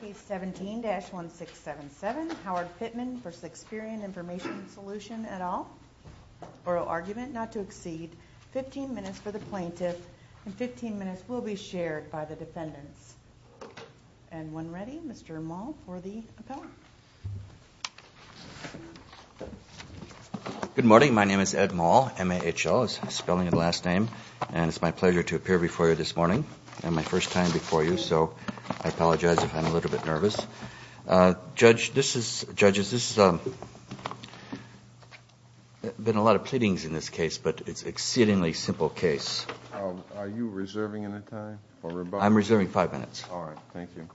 Case 17-1677, Howard Pittman v. Experian Information Solution et al. Oral argument not to exceed 15 minutes for the plaintiff and 15 minutes will be shared by the defendants. And when ready, Mr. Moll for the appellant. Good morning, my name is Ed Moll, M-A-H-L is spelling of the last name, and it's my pleasure to appear before you this morning. And my first time before you, so I apologize if I'm a little bit nervous. Judges, this has been a lot of pleadings in this case, but it's an exceedingly simple case. Are you reserving any time? I'm reserving five minutes. All right, thank you.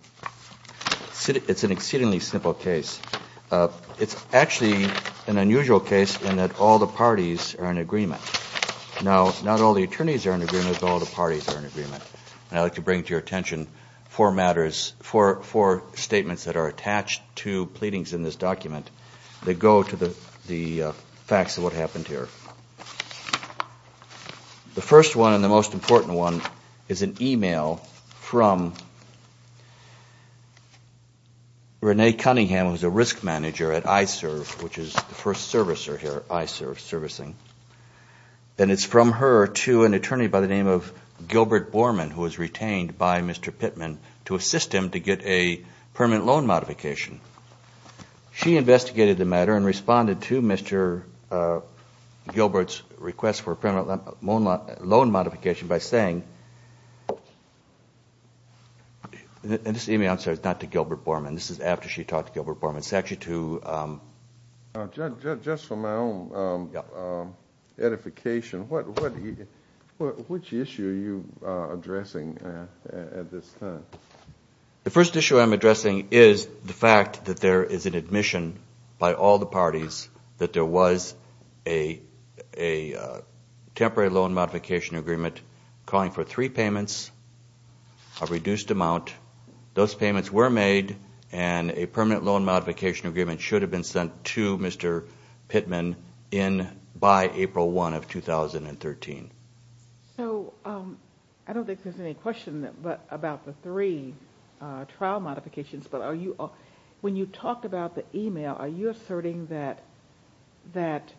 It's an exceedingly simple case. It's actually an unusual case in that all the parties are in agreement. Now, not all the attorneys are in agreement, but all the parties are in agreement. And I'd like to bring to your attention four matters, four statements that are attached to pleadings in this document that go to the facts of what happened here. The first one and the most important one is an email from Renee Cunningham, who's a risk manager at ISERV, which is the first servicer here at ISERV Servicing. And it's from her to an attorney by the name of Gilbert Borman, who was retained by Mr. Pittman to assist him to get a permanent loan modification. She investigated the matter and responded to Mr. Gilbert's request for a permanent loan modification by saying, and this email is not to Gilbert Borman, this is after she talked to Gilbert Borman, it's actually to Just for my own edification, which issue are you addressing at this time? The first issue I'm addressing is the fact that there is an admission by all the parties that there was a temporary loan modification agreement calling for three payments, a reduced amount. Those payments were made and a permanent loan modification agreement should have been sent to Mr. Pittman by April 1 of 2013. So I don't think there's any question about the three trial modifications, but when you talk about the email, are you asserting that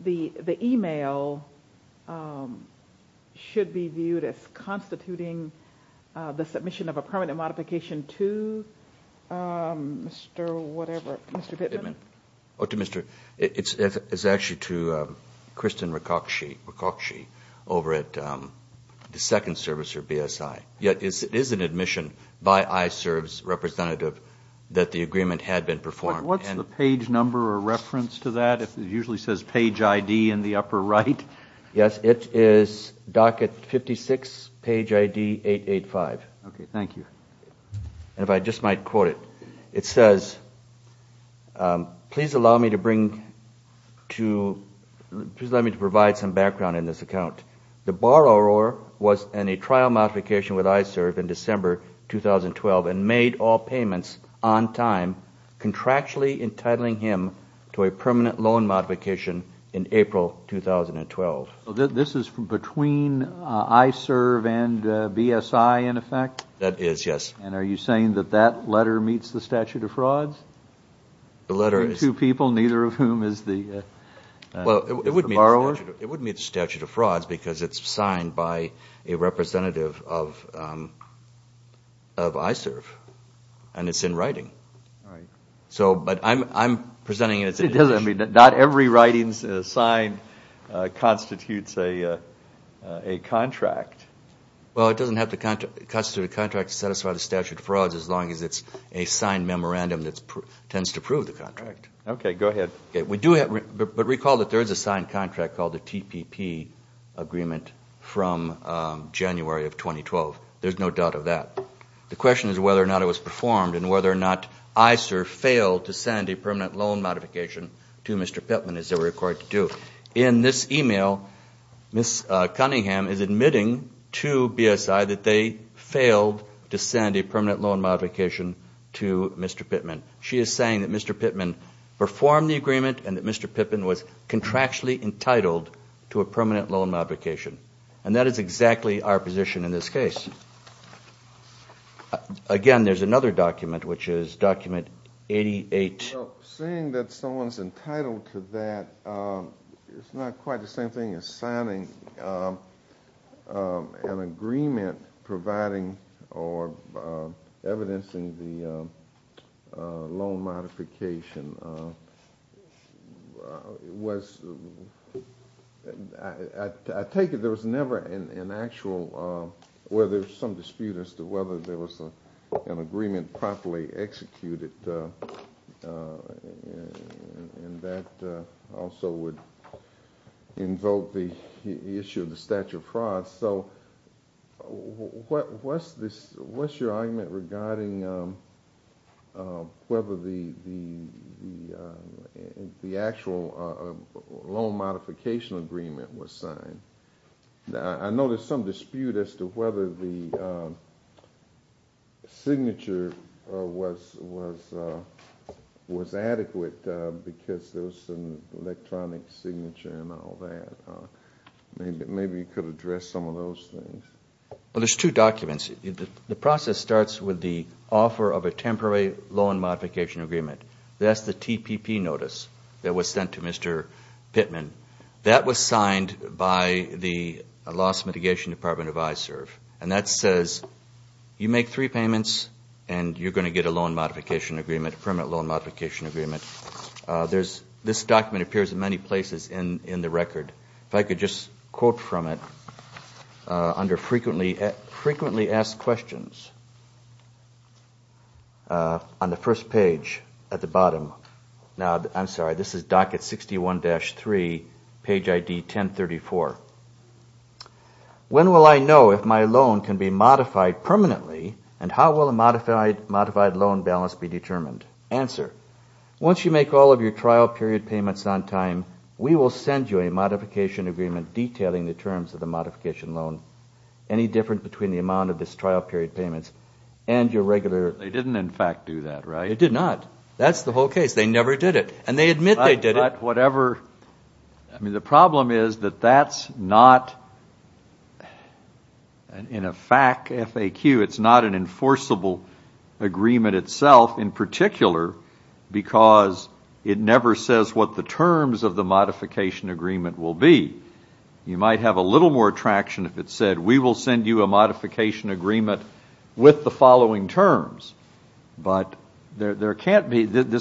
the email should be viewed as constituting the submission of a permanent modification to Mr. whatever, Mr. Pittman? It's actually to Kristen Rakocsi over at the Second Service or BSI. Yet it is an admission by ISERV's representative that the agreement had been performed. What's the page number or reference to that? It usually says page ID in the upper right. Yes, it is docket 56, page ID 885. Okay, thank you. If I just might quote it, it says, please allow me to provide some background in this account. The borrower was in a trial modification with ISERV in December 2012 and made all payments on time, contractually entitling him to a permanent loan modification in April 2012. This is between ISERV and BSI in effect? That is, yes. And are you saying that that letter meets the statute of frauds? The letter is. Two people, neither of whom is the borrower? It wouldn't meet the statute of frauds because it's signed by a representative of ISERV and it's in writing. All right. But I'm presenting it as an issue. It doesn't mean that not every writing is signed constitutes a contract. Well, it doesn't constitute a contract to satisfy the statute of frauds as long as it's a signed memorandum that tends to prove the contract. Okay, go ahead. But recall that there is a signed contract called the TPP agreement from January of 2012. There's no doubt of that. The question is whether or not it was performed and whether or not ISERV failed to send a permanent loan modification to Mr. Pittman, as they were required to do. In this email, Ms. Cunningham is admitting to BSI that they failed to send a permanent loan modification to Mr. Pittman. She is saying that Mr. Pittman performed the agreement and that Mr. Pittman was contractually entitled to a permanent loan modification. And that is exactly our position in this case. Again, there's another document, which is document 88. Seeing that someone's entitled to that, it's not quite the same thing as signing an agreement providing or evidencing the loan modification. I take it there was never an actual dispute as to whether there was an agreement properly executed. And that also would invoke the issue of the statute of frauds. So what's your argument regarding whether the actual loan modification agreement was signed? I know there's some dispute as to whether the signature was adequate because there was some electronic signature and all that. Maybe you could address some of those things. Well, there's two documents. The process starts with the offer of a temporary loan modification agreement. That's the TPP notice that was sent to Mr. Pittman. That was signed by the Loss Mitigation Department of ISERV. And that says you make three payments and you're going to get a loan modification agreement, permanent loan modification agreement. This document appears in many places in the record. If I could just quote from it under frequently asked questions on the first page at the bottom. Now, I'm sorry, this is docket 61-3, page ID 1034. When will I know if my loan can be modified permanently and how will a modified loan balance be determined? Answer. Once you make all of your trial period payments on time, we will send you a modification agreement detailing the terms of the modification loan. Any difference between the amount of this trial period payments and your regular. They didn't, in fact, do that, right? They did not. That's the whole case. They never did it. And they admit they did it. I mean, the problem is that that's not, in a FAQ, it's not an enforceable agreement itself in particular because it never says what the terms of the modification agreement will be. You might have a little more traction if it said we will send you a modification agreement with the following terms. But this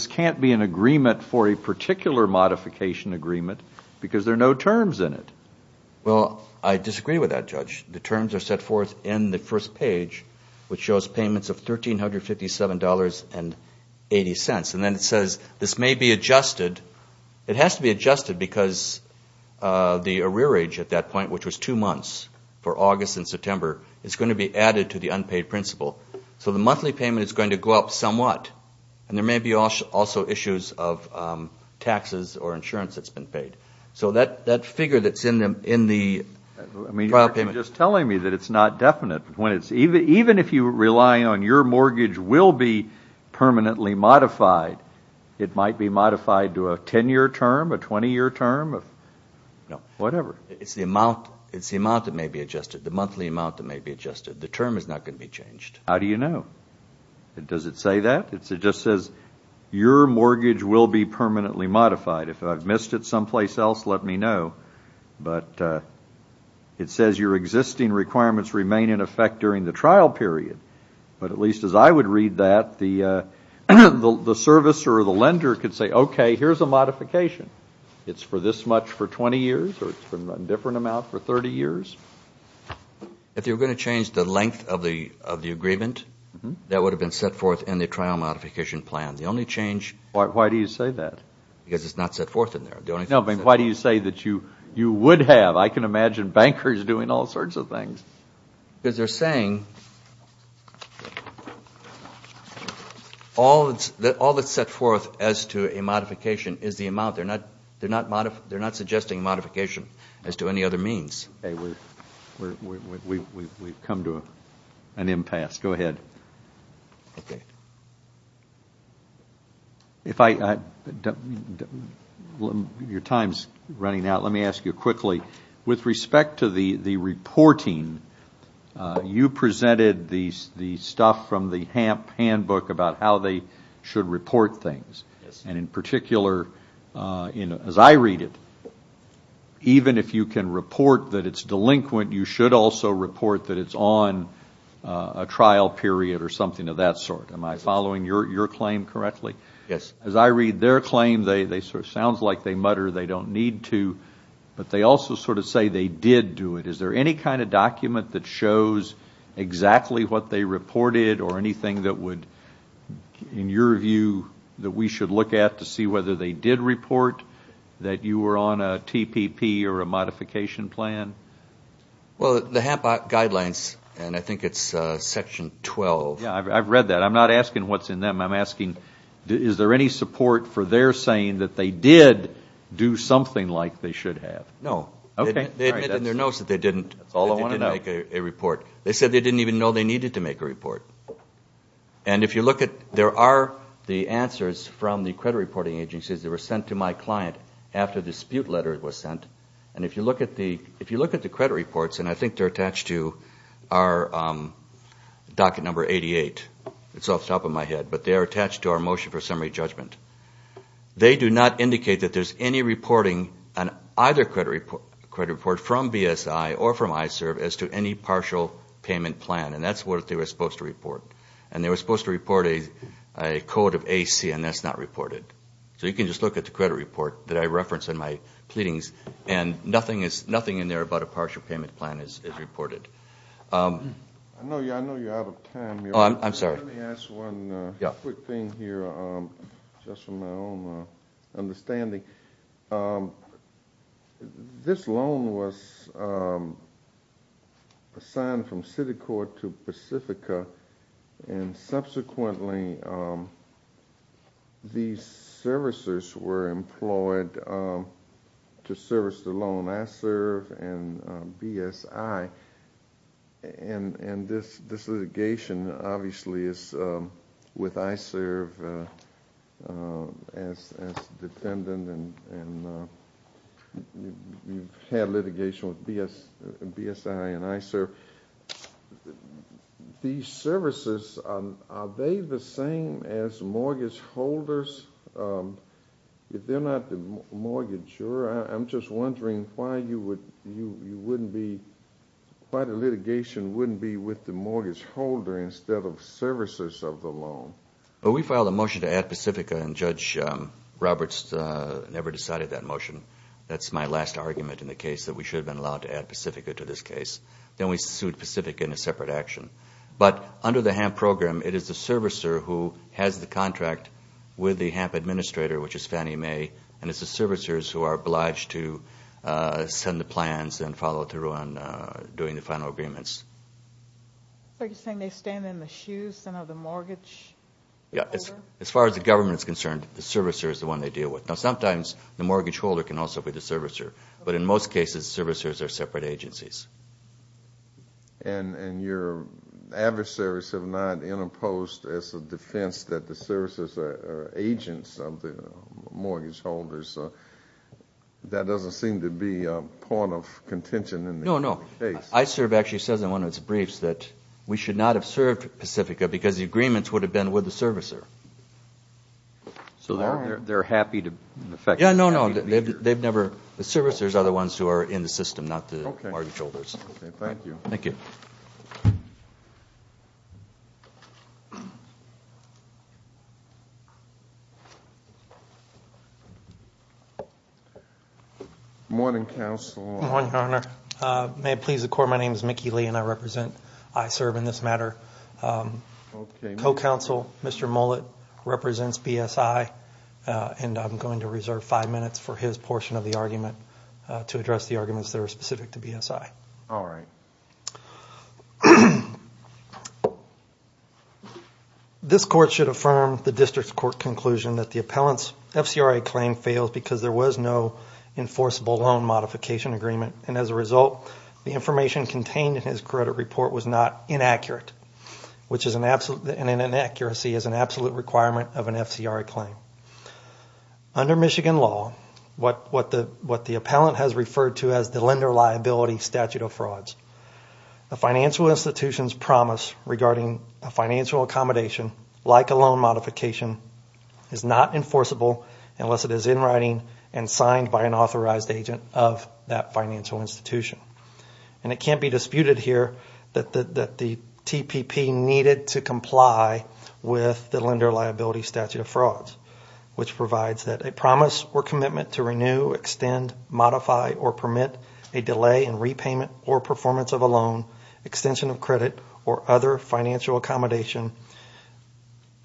can't be an agreement for a particular modification agreement because there are no terms in it. Well, I disagree with that, Judge. The terms are set forth in the first page, which shows payments of $1,357.80. And then it says this may be adjusted. It has to be adjusted because the arrearage at that point, which was two months for August and September, is going to be added to the unpaid principal. So the monthly payment is going to go up somewhat. And there may be also issues of taxes or insurance that's been paid. So that figure that's in the prior payment. I mean, you're just telling me that it's not definite. Even if you rely on your mortgage will be permanently modified, it might be modified to a 10-year term, a 20-year term, whatever. No. It's the amount that may be adjusted, the monthly amount that may be adjusted. The term is not going to be changed. How do you know? Does it say that? It just says your mortgage will be permanently modified. If I've missed it someplace else, let me know. But it says your existing requirements remain in effect during the trial period. But at least as I would read that, the servicer or the lender could say, okay, here's a modification. It's for this much for 20 years or it's for a different amount for 30 years. If you're going to change the length of the agreement, that would have been set forth in the trial modification plan. The only change. Why do you say that? Because it's not set forth in there. No, but why do you say that you would have? I can imagine bankers doing all sorts of things. Because they're saying all that's set forth as to a modification is the amount. They're not suggesting modification as to any other means. Okay. We've come to an impasse. Go ahead. Okay. Your time is running out. Let me ask you quickly. With respect to the reporting, you presented the stuff from the handbook about how they should report things. And in particular, as I read it, even if you can report that it's delinquent, you should also report that it's on a trial period or something of that sort. Am I following your claim correctly? Yes. As I read their claim, it sounds like they mutter they don't need to. But they also sort of say they did do it. Is there any kind of document that shows exactly what they reported or anything that would, in your view, that we should look at to see whether they did report that you were on a TPP or a modification plan? Well, the HAP guidelines, and I think it's Section 12. I've read that. I'm not asking what's in them. I'm asking is there any support for their saying that they did do something like they should have? No. That's all I want to know. They said they didn't even know they needed to make a report. And if you look at there are the answers from the credit reporting agencies that were sent to my client after the dispute letter was sent. And if you look at the credit reports, and I think they're attached to our docket number 88. It's off the top of my head. But they are attached to our motion for summary judgment. They do not indicate that there's any reporting on either credit report from BSI or from ISERV as to any partial payment plan. And that's what they were supposed to report. And they were supposed to report a code of AC, and that's not reported. So you can just look at the credit report that I referenced in my pleadings, and nothing in there about a partial payment plan is reported. I know you're out of time. I'm sorry. Let me ask one quick thing here just from my own understanding. This loan was assigned from city court to Pacifica, and subsequently these servicers were employed to service the loan, ISERV and BSI. And this litigation obviously is with ISERV as defendant, and you've had litigation with BSI and ISERV. These services, are they the same as mortgage holders? If they're not the mortgagor, Sure. I'm just wondering why the litigation wouldn't be with the mortgage holder instead of servicers of the loan. Well, we filed a motion to add Pacifica, and Judge Roberts never decided that motion. That's my last argument in the case that we should have been allowed to add Pacifica to this case. Then we sued Pacifica in a separate action. But under the HAMP program, it is the servicer who has the contract with the HAMP administrator, which is Fannie Mae, and it's the servicers who are obliged to send the plans and follow through on doing the final agreements. Are you saying they stand in the shoes, then, of the mortgage holder? As far as the government is concerned, the servicer is the one they deal with. Now, sometimes the mortgage holder can also be the servicer. But in most cases, servicers are separate agencies. And your adversaries have not interposed as a defense that the servicers are agents of the mortgage holders. That doesn't seem to be a point of contention in this case. No, no. ISERB actually says in one of its briefs that we should not have served Pacifica because the agreements would have been with the servicer. So they're happy to affect the mortgage holder? Yeah, no, no. The servicers are the ones who are in the system, not the mortgage holders. Okay, thank you. Thank you. Morning, Counsel. Morning, Your Honor. May it please the Court, my name is Mickey Lee, and I represent ISERB in this matter. Co-Counsel, Mr. Mullett, represents BSI, and I'm going to reserve five minutes for his portion of the argument to address the arguments that are specific to BSI. All right. This Court should affirm the District Court conclusion that the appellant's FCRA claim fails because there was no enforceable loan modification agreement, and as a result, the information contained in his credit report was not inaccurate, and inaccuracy is an absolute requirement of an FCRA claim. Under Michigan law, what the appellant has referred to as the lender liability statute of frauds, a financial institution's promise regarding a financial accommodation like a loan modification is not enforceable unless it is in writing and signed by an authorized agent of that financial institution. And it can't be disputed here that the TPP needed to comply with the lender liability statute of frauds, which provides that a promise or commitment to renew, extend, modify, or permit a delay in repayment or performance of a loan, extension of credit, or other financial accommodation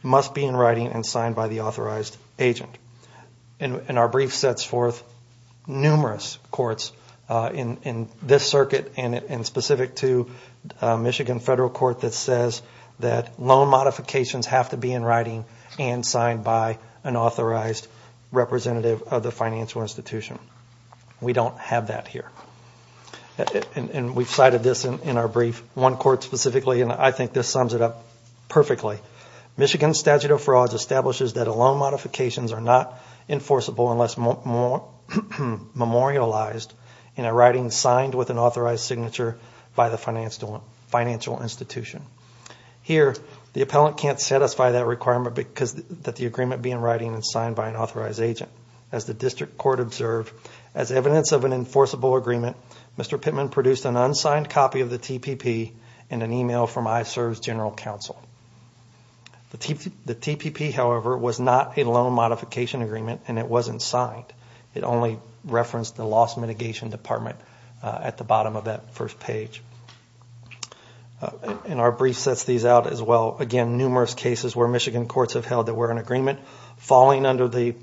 must be in writing and signed by the authorized agent. And our brief sets forth numerous courts in this circuit and specific to Michigan federal court that says that loan modifications have to be in writing and signed by an authorized representative of the financial institution. We don't have that here. And we've cited this in our brief. One court specifically, and I think this sums it up perfectly. Michigan statute of frauds establishes that loan modifications are not enforceable unless memorialized in a writing signed with an authorized signature by the financial institution. Here, the appellant can't satisfy that requirement because the agreement being in writing and signed by an authorized agent. As the district court observed, as evidence of an enforceable agreement, Mr. Pittman produced an unsigned copy of the TPP and an email from ISERV's general counsel. The TPP, however, was not a loan modification agreement, and it wasn't signed. It only referenced the loss mitigation department at the bottom of that first page. And our brief sets these out as well. Again, numerous cases where Michigan courts have held that we're in agreement. Falling under the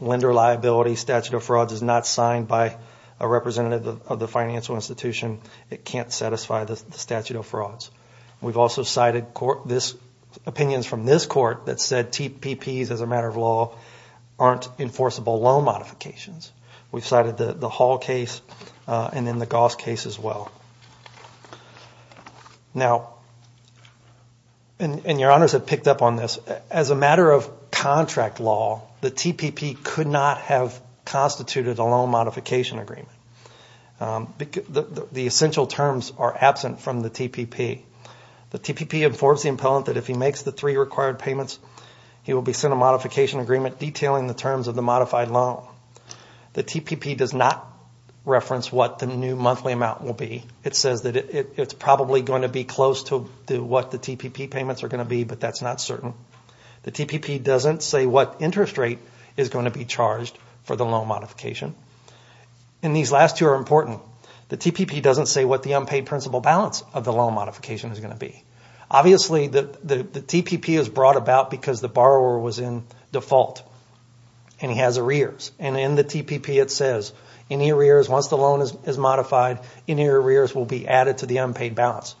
lender liability statute of frauds is not signed by a representative of the financial institution. It can't satisfy the statute of frauds. We've also cited opinions from this court that said TPPs, as a matter of law, aren't enforceable loan modifications. We've cited the Hall case and then the Goss case as well. Now, and your honors have picked up on this, as a matter of contract law, the TPP could not have constituted a loan modification agreement. The essential terms are absent from the TPP. The TPP informs the appellant that if he makes the three required payments, he will be sent a modification agreement detailing the terms of the modified loan. The TPP does not reference what the new monthly amount will be. It says that it's probably going to be close to what the TPP payments are going to be, but that's not certain. The TPP doesn't say what interest rate is going to be charged for the loan modification. And these last two are important. The TPP doesn't say what the unpaid principal balance of the loan modification is going to be. Obviously, the TPP is brought about because the borrower was in default and he has arrears. And in the TPP it says any arrears once the loan is modified, any arrears will be added to the unpaid balance.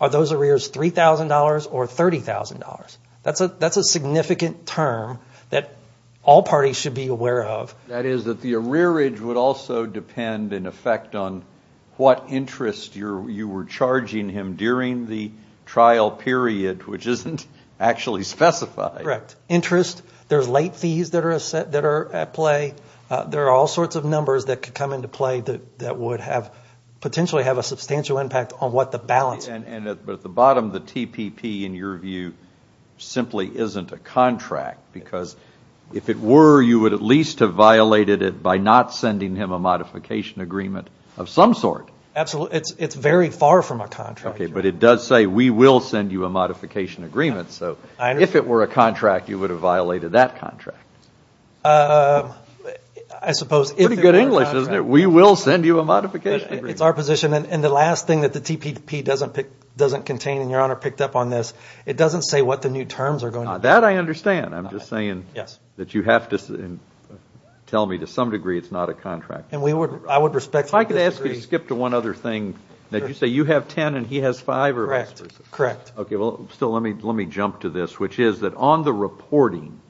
Are those arrears $3,000 or $30,000? That's a significant term that all parties should be aware of. That is that the arrearage would also depend in effect on what interest you were charging him during the trial period, which isn't actually specified. Correct. Interest, there's late fees that are at play. There are all sorts of numbers that could come into play that would potentially have a substantial impact on what the balance would be. But at the bottom, the TPP, in your view, simply isn't a contract. Because if it were, you would at least have violated it by not sending him a modification agreement of some sort. It's very far from a contract. But it does say we will send you a modification agreement. So if it were a contract, you would have violated that contract. I suppose if it were a contract. Pretty good English, isn't it? We will send you a modification agreement. It's our position. And the last thing that the TPP doesn't contain, and your Honor picked up on this, it doesn't say what the new terms are going to be. That I understand. I'm just saying that you have to tell me to some degree it's not a contract. I would respect that. If I could ask you to skip to one other thing. Did you say you have ten and he has five? Correct. Still, let me jump to this, which is that on the reporting,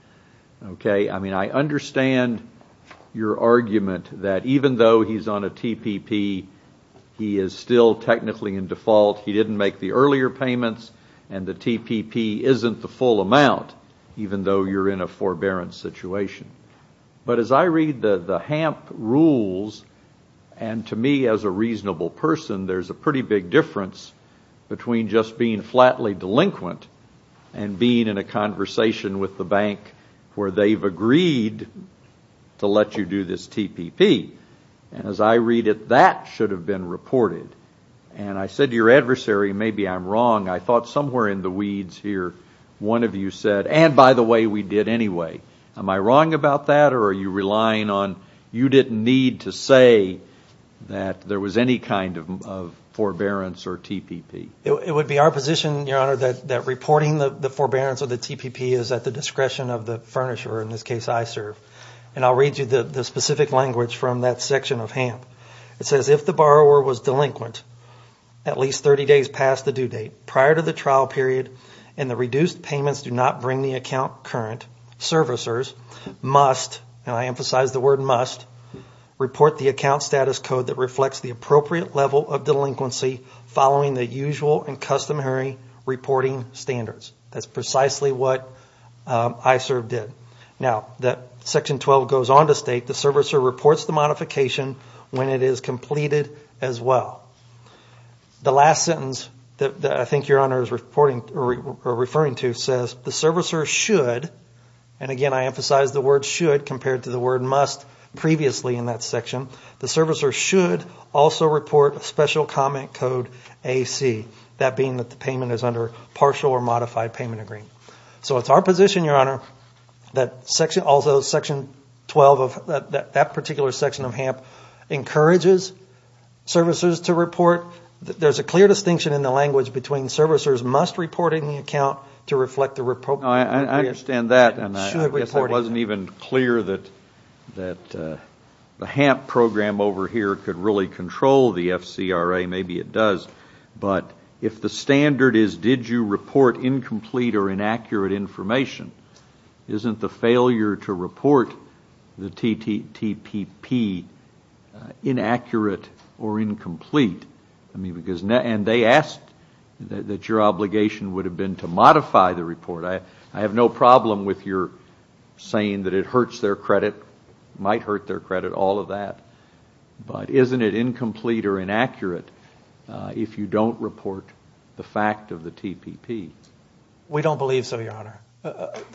I understand your argument that even though he's on a TPP, he is still technically in default, he didn't make the earlier payments, and the TPP isn't the full amount, even though you're in a forbearance situation. But as I read the HAMP rules, and to me as a reasonable person, there's a pretty big difference between just being flatly delinquent and being in a conversation with the bank where they've agreed to let you do this TPP. And as I read it, that should have been reported. And I said to your adversary, maybe I'm wrong. I thought somewhere in the weeds here, one of you said, and by the way, we did anyway. Am I wrong about that, or are you relying on you didn't need to say that there was any kind of forbearance or TPP? It would be our position, your Honor, that reporting the forbearance or the TPP is at the discretion of the furnisher, or in this case, ISERV. And I'll read you the specific language from that section of HAMP. It says, if the borrower was delinquent at least 30 days past the due date prior to the trial period and the reduced payments do not bring the account current, servicers must, and I emphasize the word must, report the account status code that reflects the appropriate level of delinquency following the usual and customary reporting standards. That's precisely what ISERV did. Now, Section 12 goes on to state the servicer reports the modification when it is completed as well. The last sentence that I think your Honor is referring to says, the servicer should, and again I emphasize the word should compared to the word must previously in that section, the servicer should also report a special comment code AC, that being that the payment is under partial or modified payment agreement. So it's our position, your Honor, that also Section 12 of that particular section of HAMP encourages servicers to report. There's a clear distinction in the language between servicers must report in the account to reflect the appropriate. I understand that and I guess it wasn't even clear that the HAMP program over here could really control the FCRA, maybe it does, but if the standard is did you report incomplete or inaccurate information, isn't the failure to report the TTPP inaccurate or incomplete? And they asked that your obligation would have been to modify the report. I have no problem with your saying that it hurts their credit, might hurt their credit, all of that, but isn't it incomplete or inaccurate if you don't report the fact of the TPP? We don't believe so, your Honor.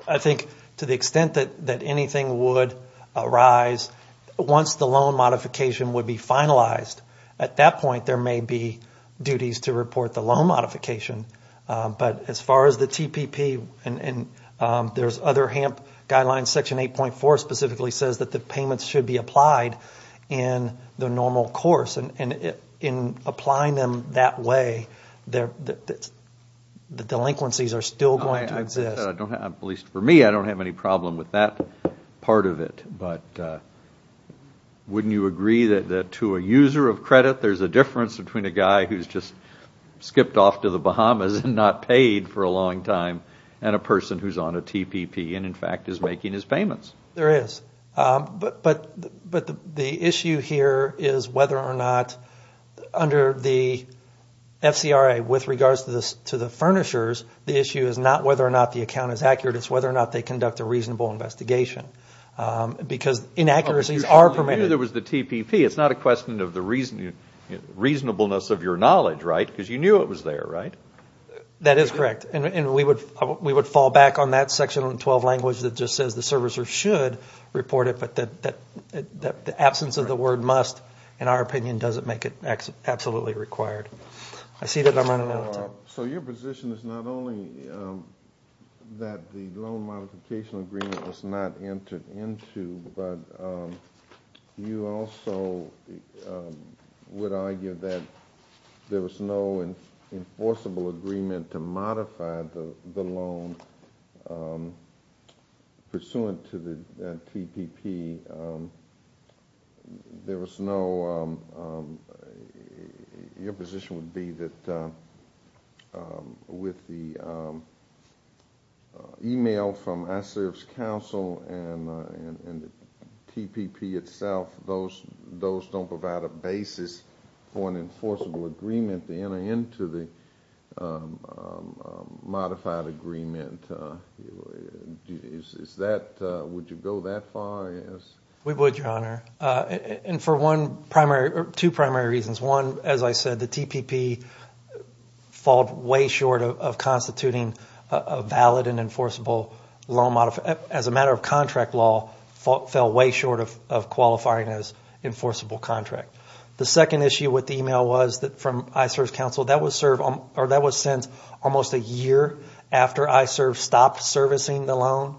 I think to the extent that anything would arise once the loan modification would be finalized, at that point there may be duties to report the loan modification, but as far as the TPP and there's other HAMP guidelines, Section 8.4 specifically says that the payments should be applied in the normal course, and in applying them that way, the delinquencies are still going to exist. I don't have, at least for me, I don't have any problem with that part of it, but wouldn't you agree that to a user of credit, there's a difference between a guy who's just skipped off to the Bahamas and not paid for a long time and a person who's on a TPP and in fact is making his payments? There is, but the issue here is whether or not under the FCRA with regards to the furnishers, the issue is not whether or not the account is accurate, it's whether or not they conduct a reasonable investigation. Because inaccuracies are permitted. You knew there was the TPP. It's not a question of the reasonableness of your knowledge, right? Because you knew it was there, right? That is correct. And we would fall back on that Section 112 language that just says the servicer should report it, but the absence of the word must, in our opinion, doesn't make it absolutely required. I see that I'm running out of time. So your position is not only that the loan modification agreement was not entered into, but you also would argue that there was no enforceable agreement to modify the loan pursuant to the TPP. Your position would be that with the email from ISERV's counsel and the TPP itself, those don't provide a basis for an enforceable agreement to enter into the modified agreement. Would you go that far? We would, Your Honor. And for two primary reasons. One, as I said, the TPP fell way short of constituting a valid and enforceable loan modification. As a matter of contract law, it fell way short of qualifying as enforceable contract. The second issue with the email was that from ISERV's counsel, that was since almost a year after ISERV stopped servicing the loan.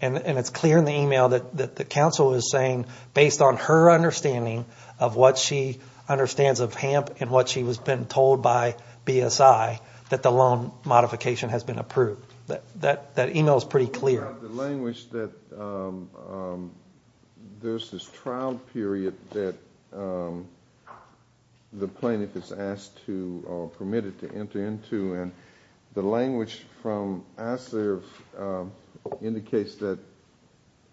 And it's clear in the email that the counsel is saying, based on her understanding of what she understands of HAMP and what she has been told by BSI, that the loan modification has been approved. That email is pretty clear. The language that there's this trial period that the plaintiff is asked to or permitted to enter into, and the language from ISERV indicates that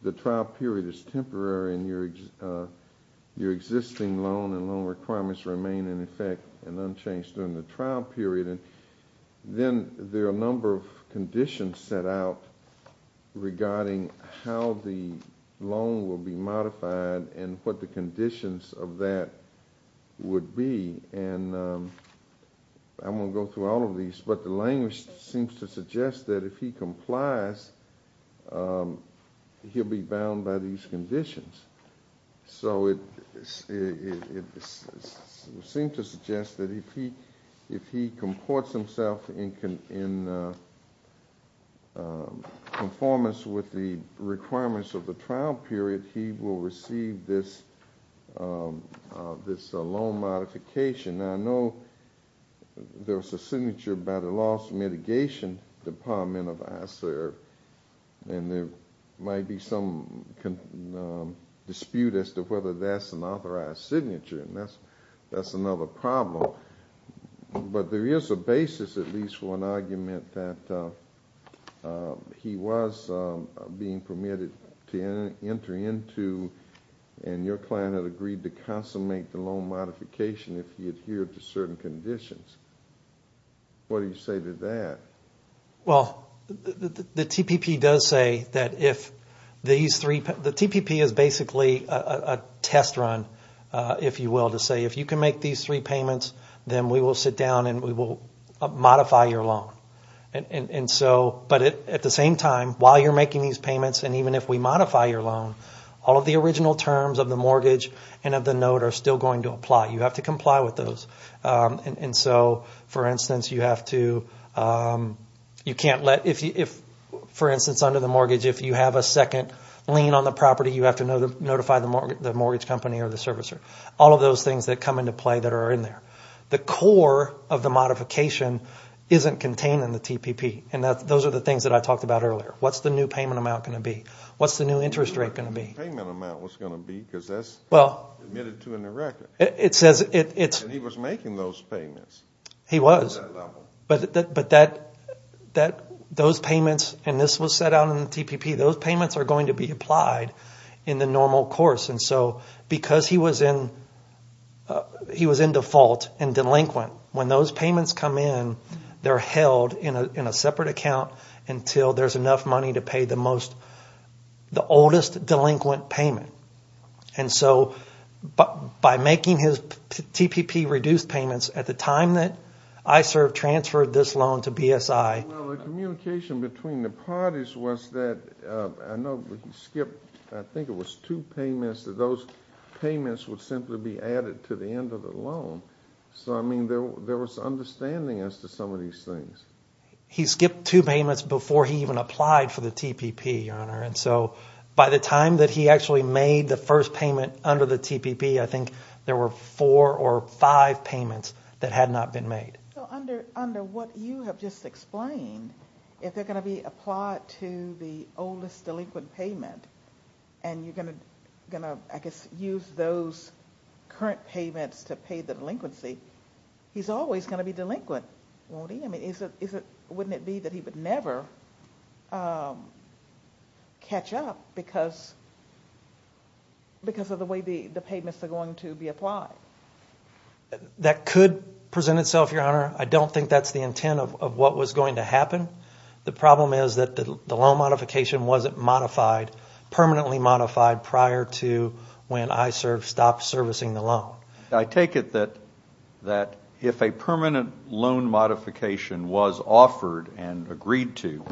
the trial period is temporary and your existing loan and loan requirements remain in effect and unchanged during the trial period. Then there are a number of conditions set out regarding how the loan will be modified and what the conditions of that would be. And I'm going to go through all of these, but the language seems to suggest that if he complies, he'll be bound by these conditions. So it seems to suggest that if he comports himself in conformance with the requirements of the trial period, he will receive this loan modification. I know there's a signature by the loss mitigation department of ISERV, and there might be some dispute as to whether that's an authorized signature. That's another problem. But there is a basis, at least, for an argument that he was being permitted to enter into and your client had agreed to consummate the loan modification if he adhered to certain conditions. What do you say to that? Well, the TPP does say that if these three – the TPP is basically a test run, if you will, to say if you can make these three payments, then we will sit down and we will modify your loan. But at the same time, while you're making these payments and even if we modify your loan, all of the original terms of the mortgage and of the note are still going to apply. You have to comply with those. So, for instance, you have to – you can't let – for instance, under the mortgage, if you have a second lien on the property, you have to notify the mortgage company or the servicer. All of those things that come into play that are in there. The core of the modification isn't contained in the TPP, and those are the things that I talked about earlier. What's the new payment amount going to be? What's the new interest rate going to be? What's the new payment amount going to be? Because that's admitted to in the record. And he was making those payments. He was. At that level. But that – those payments – and this was set out in the TPP. Those payments are going to be applied in the normal course. And so because he was in – he was in default and delinquent, when those payments come in, they're held in a separate account until there's enough money to pay the most – the oldest delinquent payment. And so by making his TPP-reduced payments at the time that I served transferred this loan to BSI. Well, the communication between the parties was that – I know we skipped – I think it was two payments that those payments would simply be added to the end of the loan. So, I mean, there was understanding as to some of these things. He skipped two payments before he even applied for the TPP, Your Honor. And so by the time that he actually made the first payment under the TPP, I think there were four or five payments that had not been made. So under what you have just explained, if they're going to be applied to the oldest delinquent payment and you're going to, I guess, use those current payments to pay the delinquency, he's always going to be delinquent, won't he? Wouldn't it be that he would never catch up because of the way the payments are going to be applied? That could present itself, Your Honor. I don't think that's the intent of what was going to happen. The problem is that the loan modification wasn't modified, permanently modified prior to when I stopped servicing the loan. I take it that if a permanent loan modification was offered and agreed to,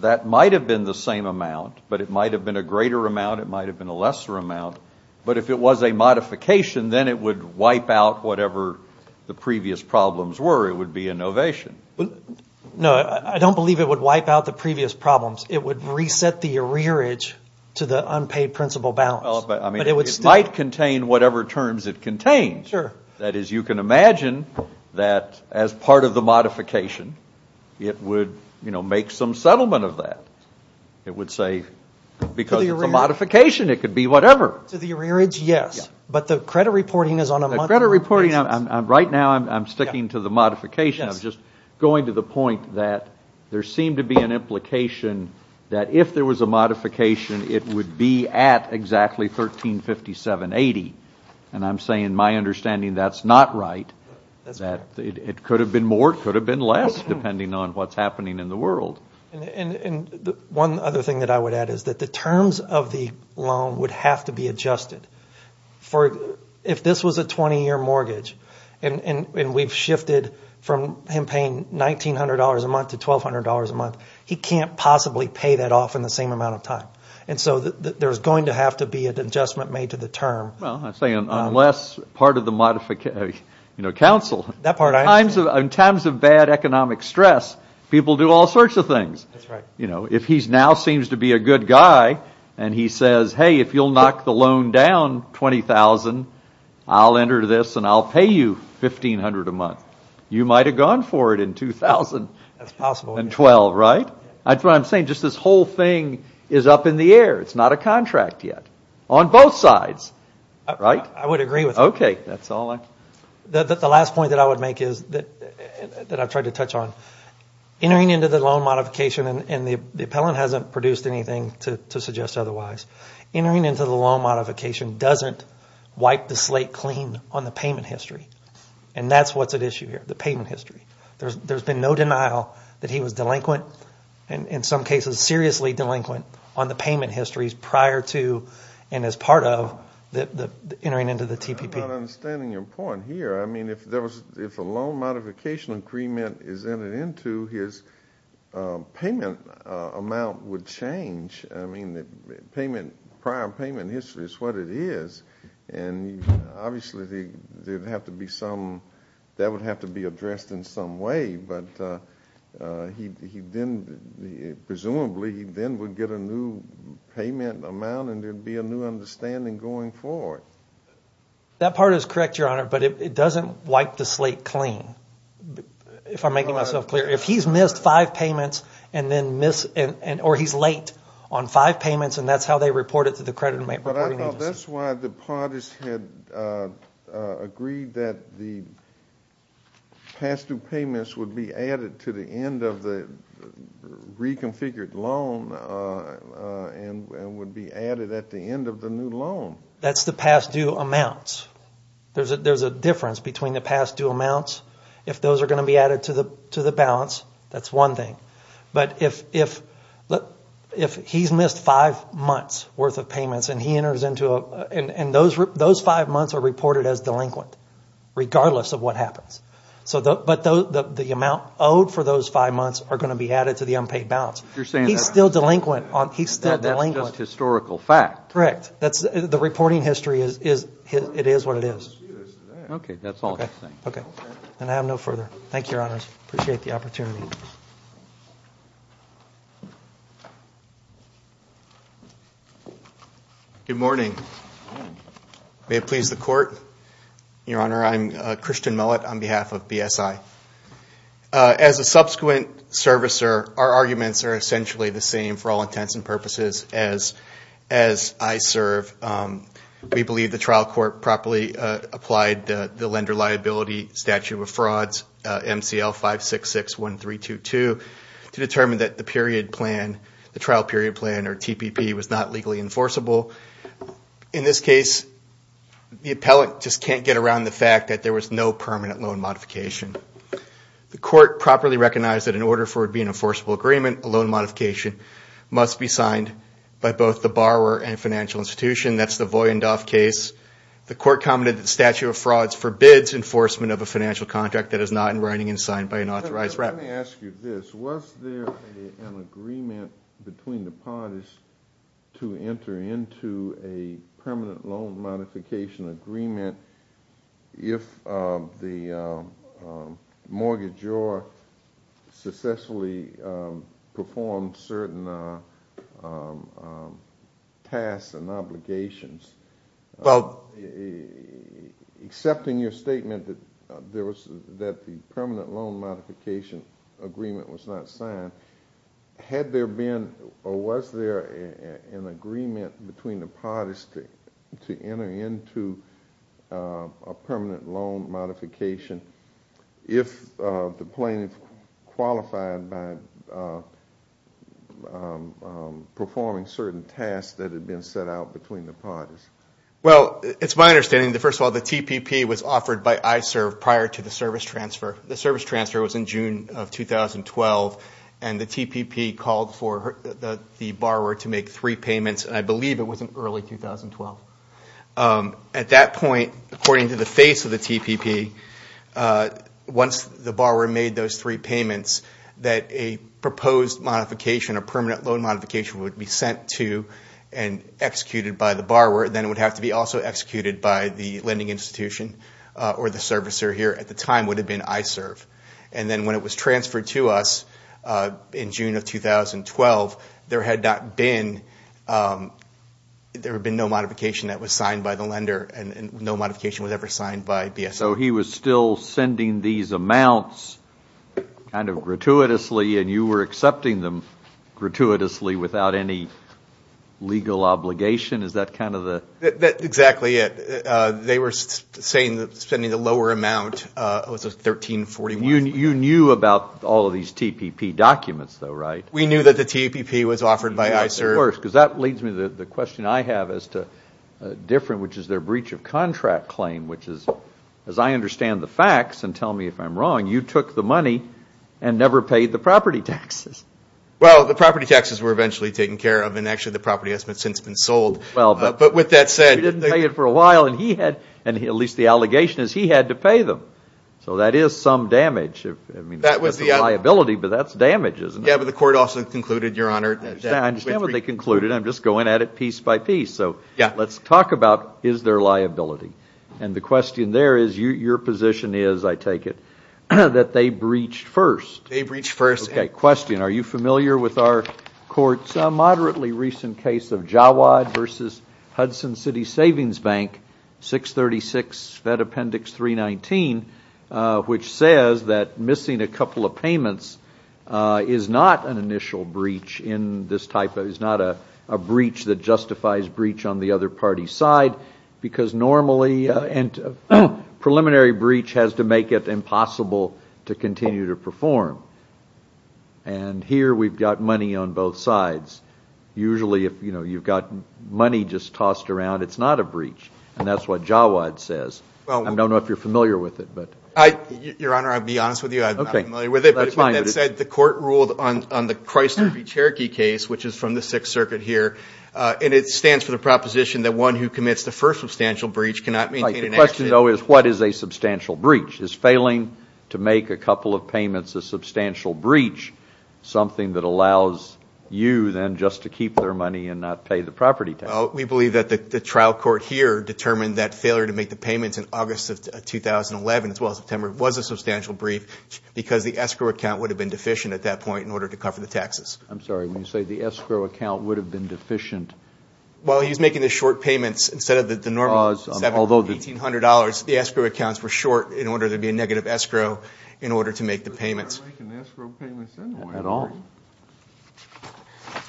that might have been the same amount, but it might have been a greater amount, it might have been a lesser amount. But if it was a modification, then it would wipe out whatever the previous problems were. It would be a novation. No, I don't believe it would wipe out the previous problems. It would reset the arrearage to the unpaid principal balance. It might contain whatever terms it contains. That is, you can imagine that as part of the modification, it would make some settlement of that. It would say, because it's a modification, it could be whatever. To the arrearage, yes. But the credit reporting is on a monthly basis. The credit reporting, right now I'm sticking to the modification. I'm just going to the point that there seemed to be an implication that if there was a modification, it would be at exactly $1,357.80. I'm saying in my understanding that's not right. It could have been more, it could have been less, depending on what's happening in the world. One other thing that I would add is that the terms of the loan would have to be adjusted. If this was a 20-year mortgage and we've shifted from him paying $1,900 a month to $1,200 a month, he can't possibly pay that off in the same amount of time. So there's going to have to be an adjustment made to the term. Well, I'm saying unless part of the council, in times of bad economic stress, people do all sorts of things. If he now seems to be a good guy and he says, hey, if you'll knock the loan down $20,000, I'll enter this and I'll pay you $1,500 a month, you might have gone for it in 2000. That's possible. 2012, right? That's what I'm saying. Just this whole thing is up in the air. It's not a contract yet on both sides, right? I would agree with that. Okay. The last point that I would make is that I've tried to touch on. Entering into the loan modification, and the appellant hasn't produced anything to suggest otherwise, entering into the loan modification doesn't wipe the slate clean on the payment history. And that's what's at issue here, the payment history. There's been no denial that he was delinquent, and in some cases seriously delinquent, on the payment histories prior to and as part of entering into the TPP. I'm not understanding your point here. I mean, if a loan modification agreement is entered into, his payment amount would change. I mean, prior payment history is what it is. And obviously, that would have to be addressed in some way. But presumably, he then would get a new payment amount, and there would be a new understanding going forward. That part is correct, Your Honor, but it doesn't wipe the slate clean, if I'm making myself clear. If he's missed five payments, or he's late on five payments, and that's how they report it to the credit reporting agency. Well, that's why the parties had agreed that the past-due payments would be added to the end of the reconfigured loan and would be added at the end of the new loan. That's the past-due amounts. There's a difference between the past-due amounts. If those are going to be added to the balance, that's one thing. But if he's missed five months' worth of payments, and those five months are reported as delinquent, regardless of what happens. But the amount owed for those five months are going to be added to the unpaid balance. He's still delinquent. That's just historical fact. Correct. The reporting history, it is what it is. Okay, that's all I have to say. Okay, then I have no further. Thank you, Your Honor. I appreciate the opportunity. Good morning. May it please the Court. Your Honor, I'm Christian Mullet on behalf of BSI. As a subsequent servicer, our arguments are essentially the same for all intents and purposes as I serve. We believe the trial court properly applied the Lender Liability Statute of Frauds, MCL 5661322, to determine that the trial period plan, or TPP, was not legally enforceable. In this case, the appellant just can't get around the fact that there was no permanent loan modification. The court properly recognized that in order for it to be an enforceable agreement, a loan modification must be signed by both the borrower and financial institution. That's the Voyendoff case. The court commented that the statute of frauds forbids enforcement of a financial contract that is not in writing and signed by an authorized rep. Let me ask you this. Was there an agreement between the parties to enter into a permanent loan modification agreement if the mortgagor successfully performed certain tasks and obligations? Well, accepting your statement that the permanent loan modification agreement was not signed, had there been or was there an agreement between the parties to enter into a permanent loan modification if the plaintiff qualified by performing certain tasks that had been set out between the parties? Well, it's my understanding that, first of all, the TPP was offered by ISERV prior to the service transfer. The service transfer was in June of 2012, and the TPP called for the borrower to make three payments, and I believe it was in early 2012. At that point, according to the face of the TPP, once the borrower made those three payments, that a proposed modification, a permanent loan modification, would be sent to and executed by the borrower. Then it would have to be also executed by the lending institution or the servicer here. At the time, it would have been ISERV. And then when it was transferred to us in June of 2012, there had been no modification that was signed by the lender, and no modification was ever signed by BSO. So he was still sending these amounts kind of gratuitously, and you were accepting them gratuitously without any legal obligation? Is that kind of the? That's exactly it. They were saying that spending the lower amount was a 1341. You knew about all of these TPP documents, though, right? We knew that the TPP was offered by ISERV. Of course, because that leads me to the question I have as to different, which is their breach of contract claim, which is, as I understand the facts, and tell me if I'm wrong, you took the money and never paid the property taxes. Well, the property taxes were eventually taken care of, and actually the property has since been sold. But with that said. We didn't pay it for a while, and at least the allegation is he had to pay them. So that is some damage. I mean, that's a liability, but that's damage, isn't it? Yeah, but the court also concluded, Your Honor. I understand what they concluded. I'm just going at it piece by piece. So let's talk about is there liability. And the question there is your position is, I take it, that they breached first. They breached first. Okay, question. Are you familiar with our court's moderately recent case of Jawad v. Hudson City Savings Bank, 636 Fed Appendix 319, which says that missing a couple of payments is not an initial breach in this type, is not a breach that justifies breach on the other party's side, because normally preliminary breach has to make it impossible to continue to perform. And here we've got money on both sides. Usually if you've got money just tossed around, it's not a breach. And that's what Jawad says. I don't know if you're familiar with it. Your Honor, I'll be honest with you. I'm not familiar with it. But the court ruled on the Chrysler v. Cherokee case, which is from the Sixth Circuit here, and it stands for the proposition that one who commits the first substantial breach cannot maintain an accident. The question, though, is what is a substantial breach? Is failing to make a couple of payments a substantial breach something that allows you then just to keep their money and not pay the property tax? We believe that the trial court here determined that failure to make the payments in August of 2011, as well as September, was a substantial breach because the escrow account would have been deficient at that point in order to cover the taxes. I'm sorry. When you say the escrow account would have been deficient? Well, he's making the short payments instead of the normal $1,700, $1,800. The escrow accounts were short in order to be a negative escrow in order to make the payments. They're not making escrow payments anyway. Not at all.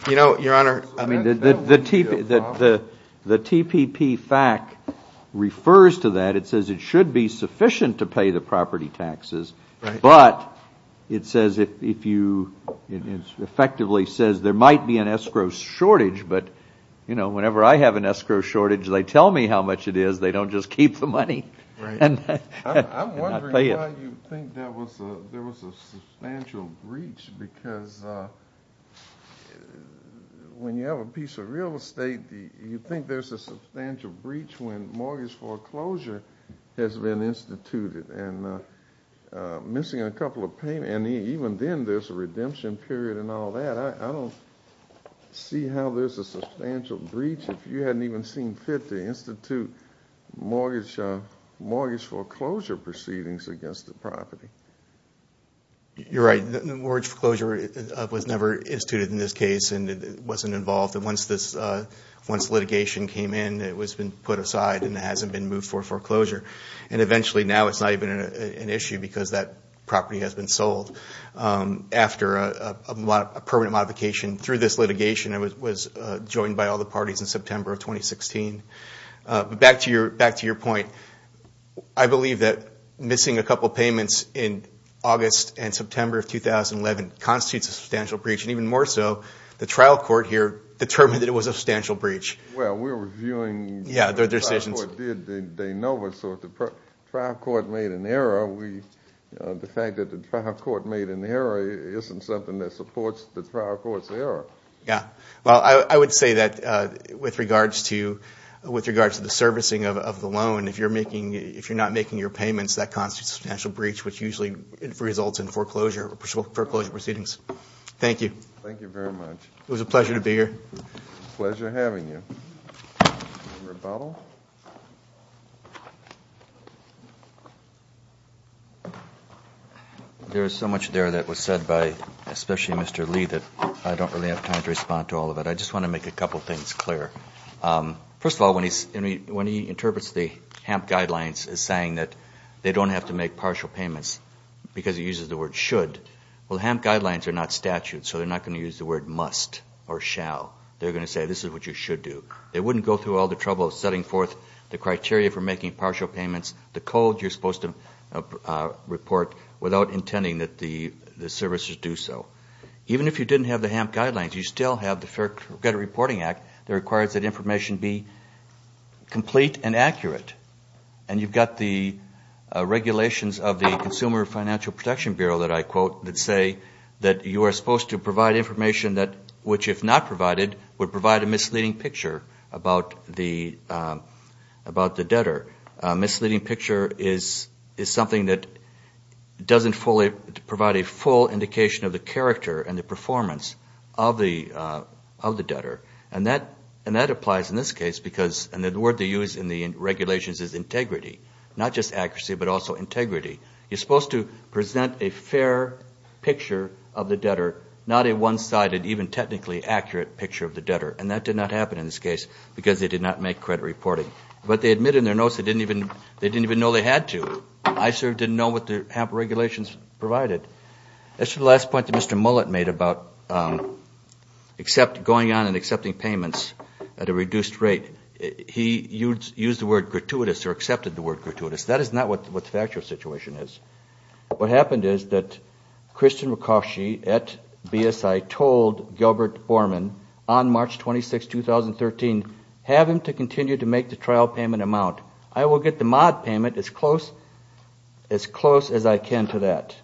You know, Your Honor, I mean, the TPP fact refers to that. It says it should be sufficient to pay the property taxes. Right. But it says if you – it effectively says there might be an escrow shortage, but, you know, whenever I have an escrow shortage, they tell me how much it is. They don't just keep the money and not pay it. I'm wondering why you think there was a substantial breach because when you have a piece of real estate, you think there's a substantial breach when mortgage foreclosure has been instituted and missing a couple of payments, and even then there's a redemption period and all that. I don't see how there's a substantial breach if you hadn't even seen fit to institute mortgage foreclosure proceedings against the property. You're right. Mortgage foreclosure was never instituted in this case and it wasn't involved. And once litigation came in, it was put aside and it hasn't been moved for foreclosure. And eventually now it's not even an issue because that property has been sold. After a permanent modification through this litigation, it was joined by all the parties in September of 2016. But back to your point, I believe that missing a couple of payments in August and September of 2011 constitutes a substantial breach. And even more so, the trial court here determined that it was a substantial breach. Well, we're reviewing – Yeah, their decisions. So if the trial court made an error, the fact that the trial court made an error isn't something that supports the trial court's error. Yeah. Well, I would say that with regards to the servicing of the loan, if you're not making your payments, that constitutes a substantial breach, which usually results in foreclosure proceedings. Thank you. Thank you very much. It was a pleasure to be here. Pleasure having you. Rebuttal. There is so much there that was said by especially Mr. Lee that I don't really have time to respond to all of it. I just want to make a couple of things clear. First of all, when he interprets the HAMP guidelines as saying that they don't have to make partial payments because he uses the word should, well, HAMP guidelines are not statute, so they're not going to use the word must or shall. They're going to say this is what you should do. They wouldn't go through all the trouble of setting forth the criteria for making partial payments, the code you're supposed to report without intending that the servicers do so. Even if you didn't have the HAMP guidelines, you still have the Fair Credit Reporting Act that requires that information be complete and accurate. And you've got the regulations of the Consumer Financial Protection Bureau that I quote that say that you are supposed to provide information which, if not provided, would provide a misleading picture about the debtor. A misleading picture is something that doesn't provide a full indication of the character and the performance of the debtor. And that applies in this case because the word they use in the regulations is integrity, not just accuracy but also integrity. You're supposed to present a fair picture of the debtor, not a one-sided, even technically accurate picture of the debtor. And that did not happen in this case because they did not make credit reporting. But they admit in their notes they didn't even know they had to. ICER didn't know what the HAMP regulations provided. As to the last point that Mr. Mullet made about going on and accepting payments at a reduced rate, he used the word gratuitous or accepted the word gratuitous. That is not what the factual situation is. What happened is that Kristen Rakosche at BSI told Gilbert Borman on March 26, 2013, have him to continue to make the trial payment amount. I will get the mod payment as close as I can to that.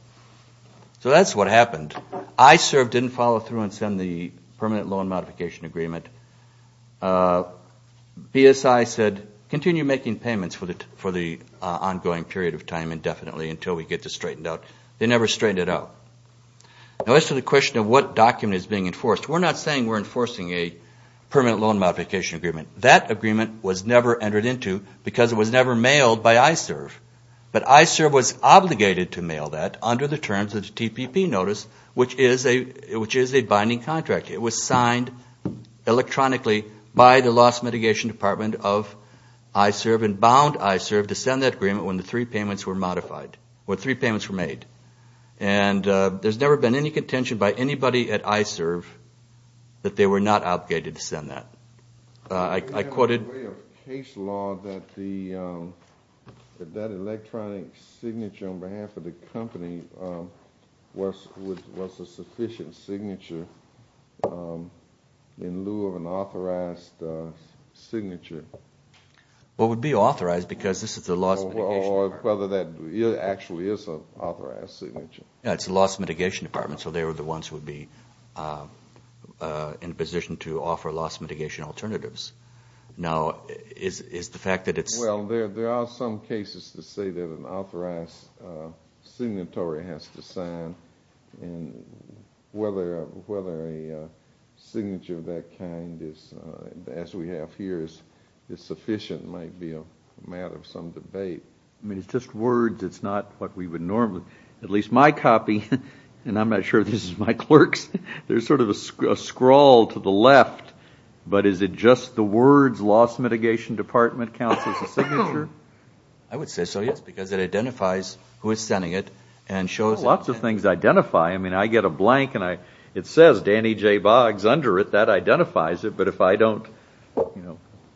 So that's what happened. ICER didn't follow through and send the Permanent Loan Modification Agreement. BSI said continue making payments for the ongoing period of time indefinitely until we get this straightened out. They never straightened it out. Now as to the question of what document is being enforced, we're not saying we're enforcing a Permanent Loan Modification Agreement. That agreement was never entered into because it was never mailed by ICER. But ICER was obligated to mail that under the terms of the TPP notice, which is a binding contract. It was signed electronically by the Loss Mitigation Department of ICER and bound ICER to send that agreement when the three payments were made. And there's never been any contention by anybody at ICER that they were not obligated to send that. I quoted There was no way of case law that that electronic signature on behalf of the company was a sufficient signature in lieu of an authorized signature. Well, it would be authorized because this is the Loss Mitigation Department. Or whether that actually is an authorized signature. It's the Loss Mitigation Department. So they were the ones who would be in a position to offer loss mitigation alternatives. Now is the fact that it's Well, there are some cases to say that an authorized signatory has to sign. And whether a signature of that kind as we have here is sufficient might be a matter of some debate. I mean, it's just words. It's not what we would normally, at least my copy. And I'm not sure this is my clerk's. There's sort of a scroll to the left. But is it just the words Loss Mitigation Department counts as a signature? I would say so, yes, because it identifies who is sending it and shows Lots of things identify. I mean, I get a blank and it says Danny J. Boggs under it. That identifies it. But if I don't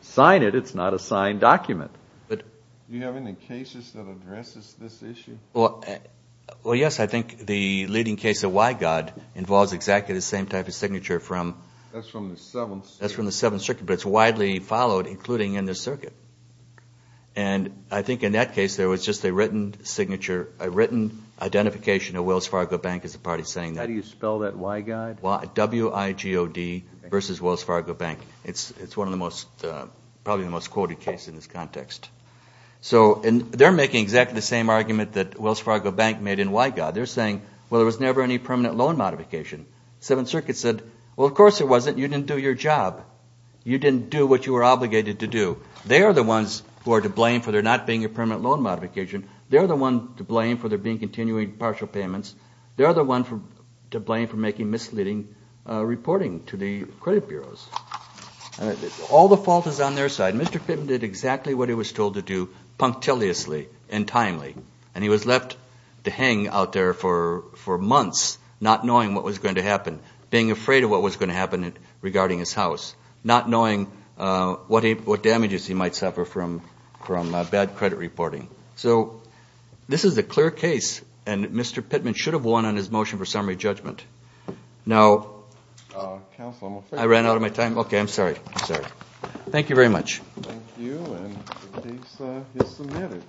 sign it, it's not a signed document. Do you have any cases that address this issue? Well, yes. I think the leading case of Wygaud involves exactly the same type of signature from That's from the Seventh Circuit. That's from the Seventh Circuit, but it's widely followed, including in this circuit. And I think in that case there was just a written signature, a written identification of Wells Fargo Bank as a party sending that. How do you spell that Wygaud? W-I-G-O-D versus Wells Fargo Bank. It's probably the most quoted case in this context. So they're making exactly the same argument that Wells Fargo Bank made in Wygaud. They're saying, well, there was never any permanent loan modification. The Seventh Circuit said, well, of course there wasn't. You didn't do your job. You didn't do what you were obligated to do. They are the ones who are to blame for there not being a permanent loan modification. They're the ones to blame for there being continuing partial payments. They're the ones to blame for making misleading reporting to the credit bureaus. All the fault is on their side. Mr. Pittman did exactly what he was told to do punctiliously and timely, and he was left to hang out there for months, not knowing what was going to happen, being afraid of what was going to happen regarding his house, not knowing what damages he might suffer from bad credit reporting. So this is a clear case, and Mr. Pittman should have won on his motion for summary judgment. Now, I ran out of my time? Okay, I'm sorry. I'm sorry. Thank you very much. Thank you, and the case is submitted.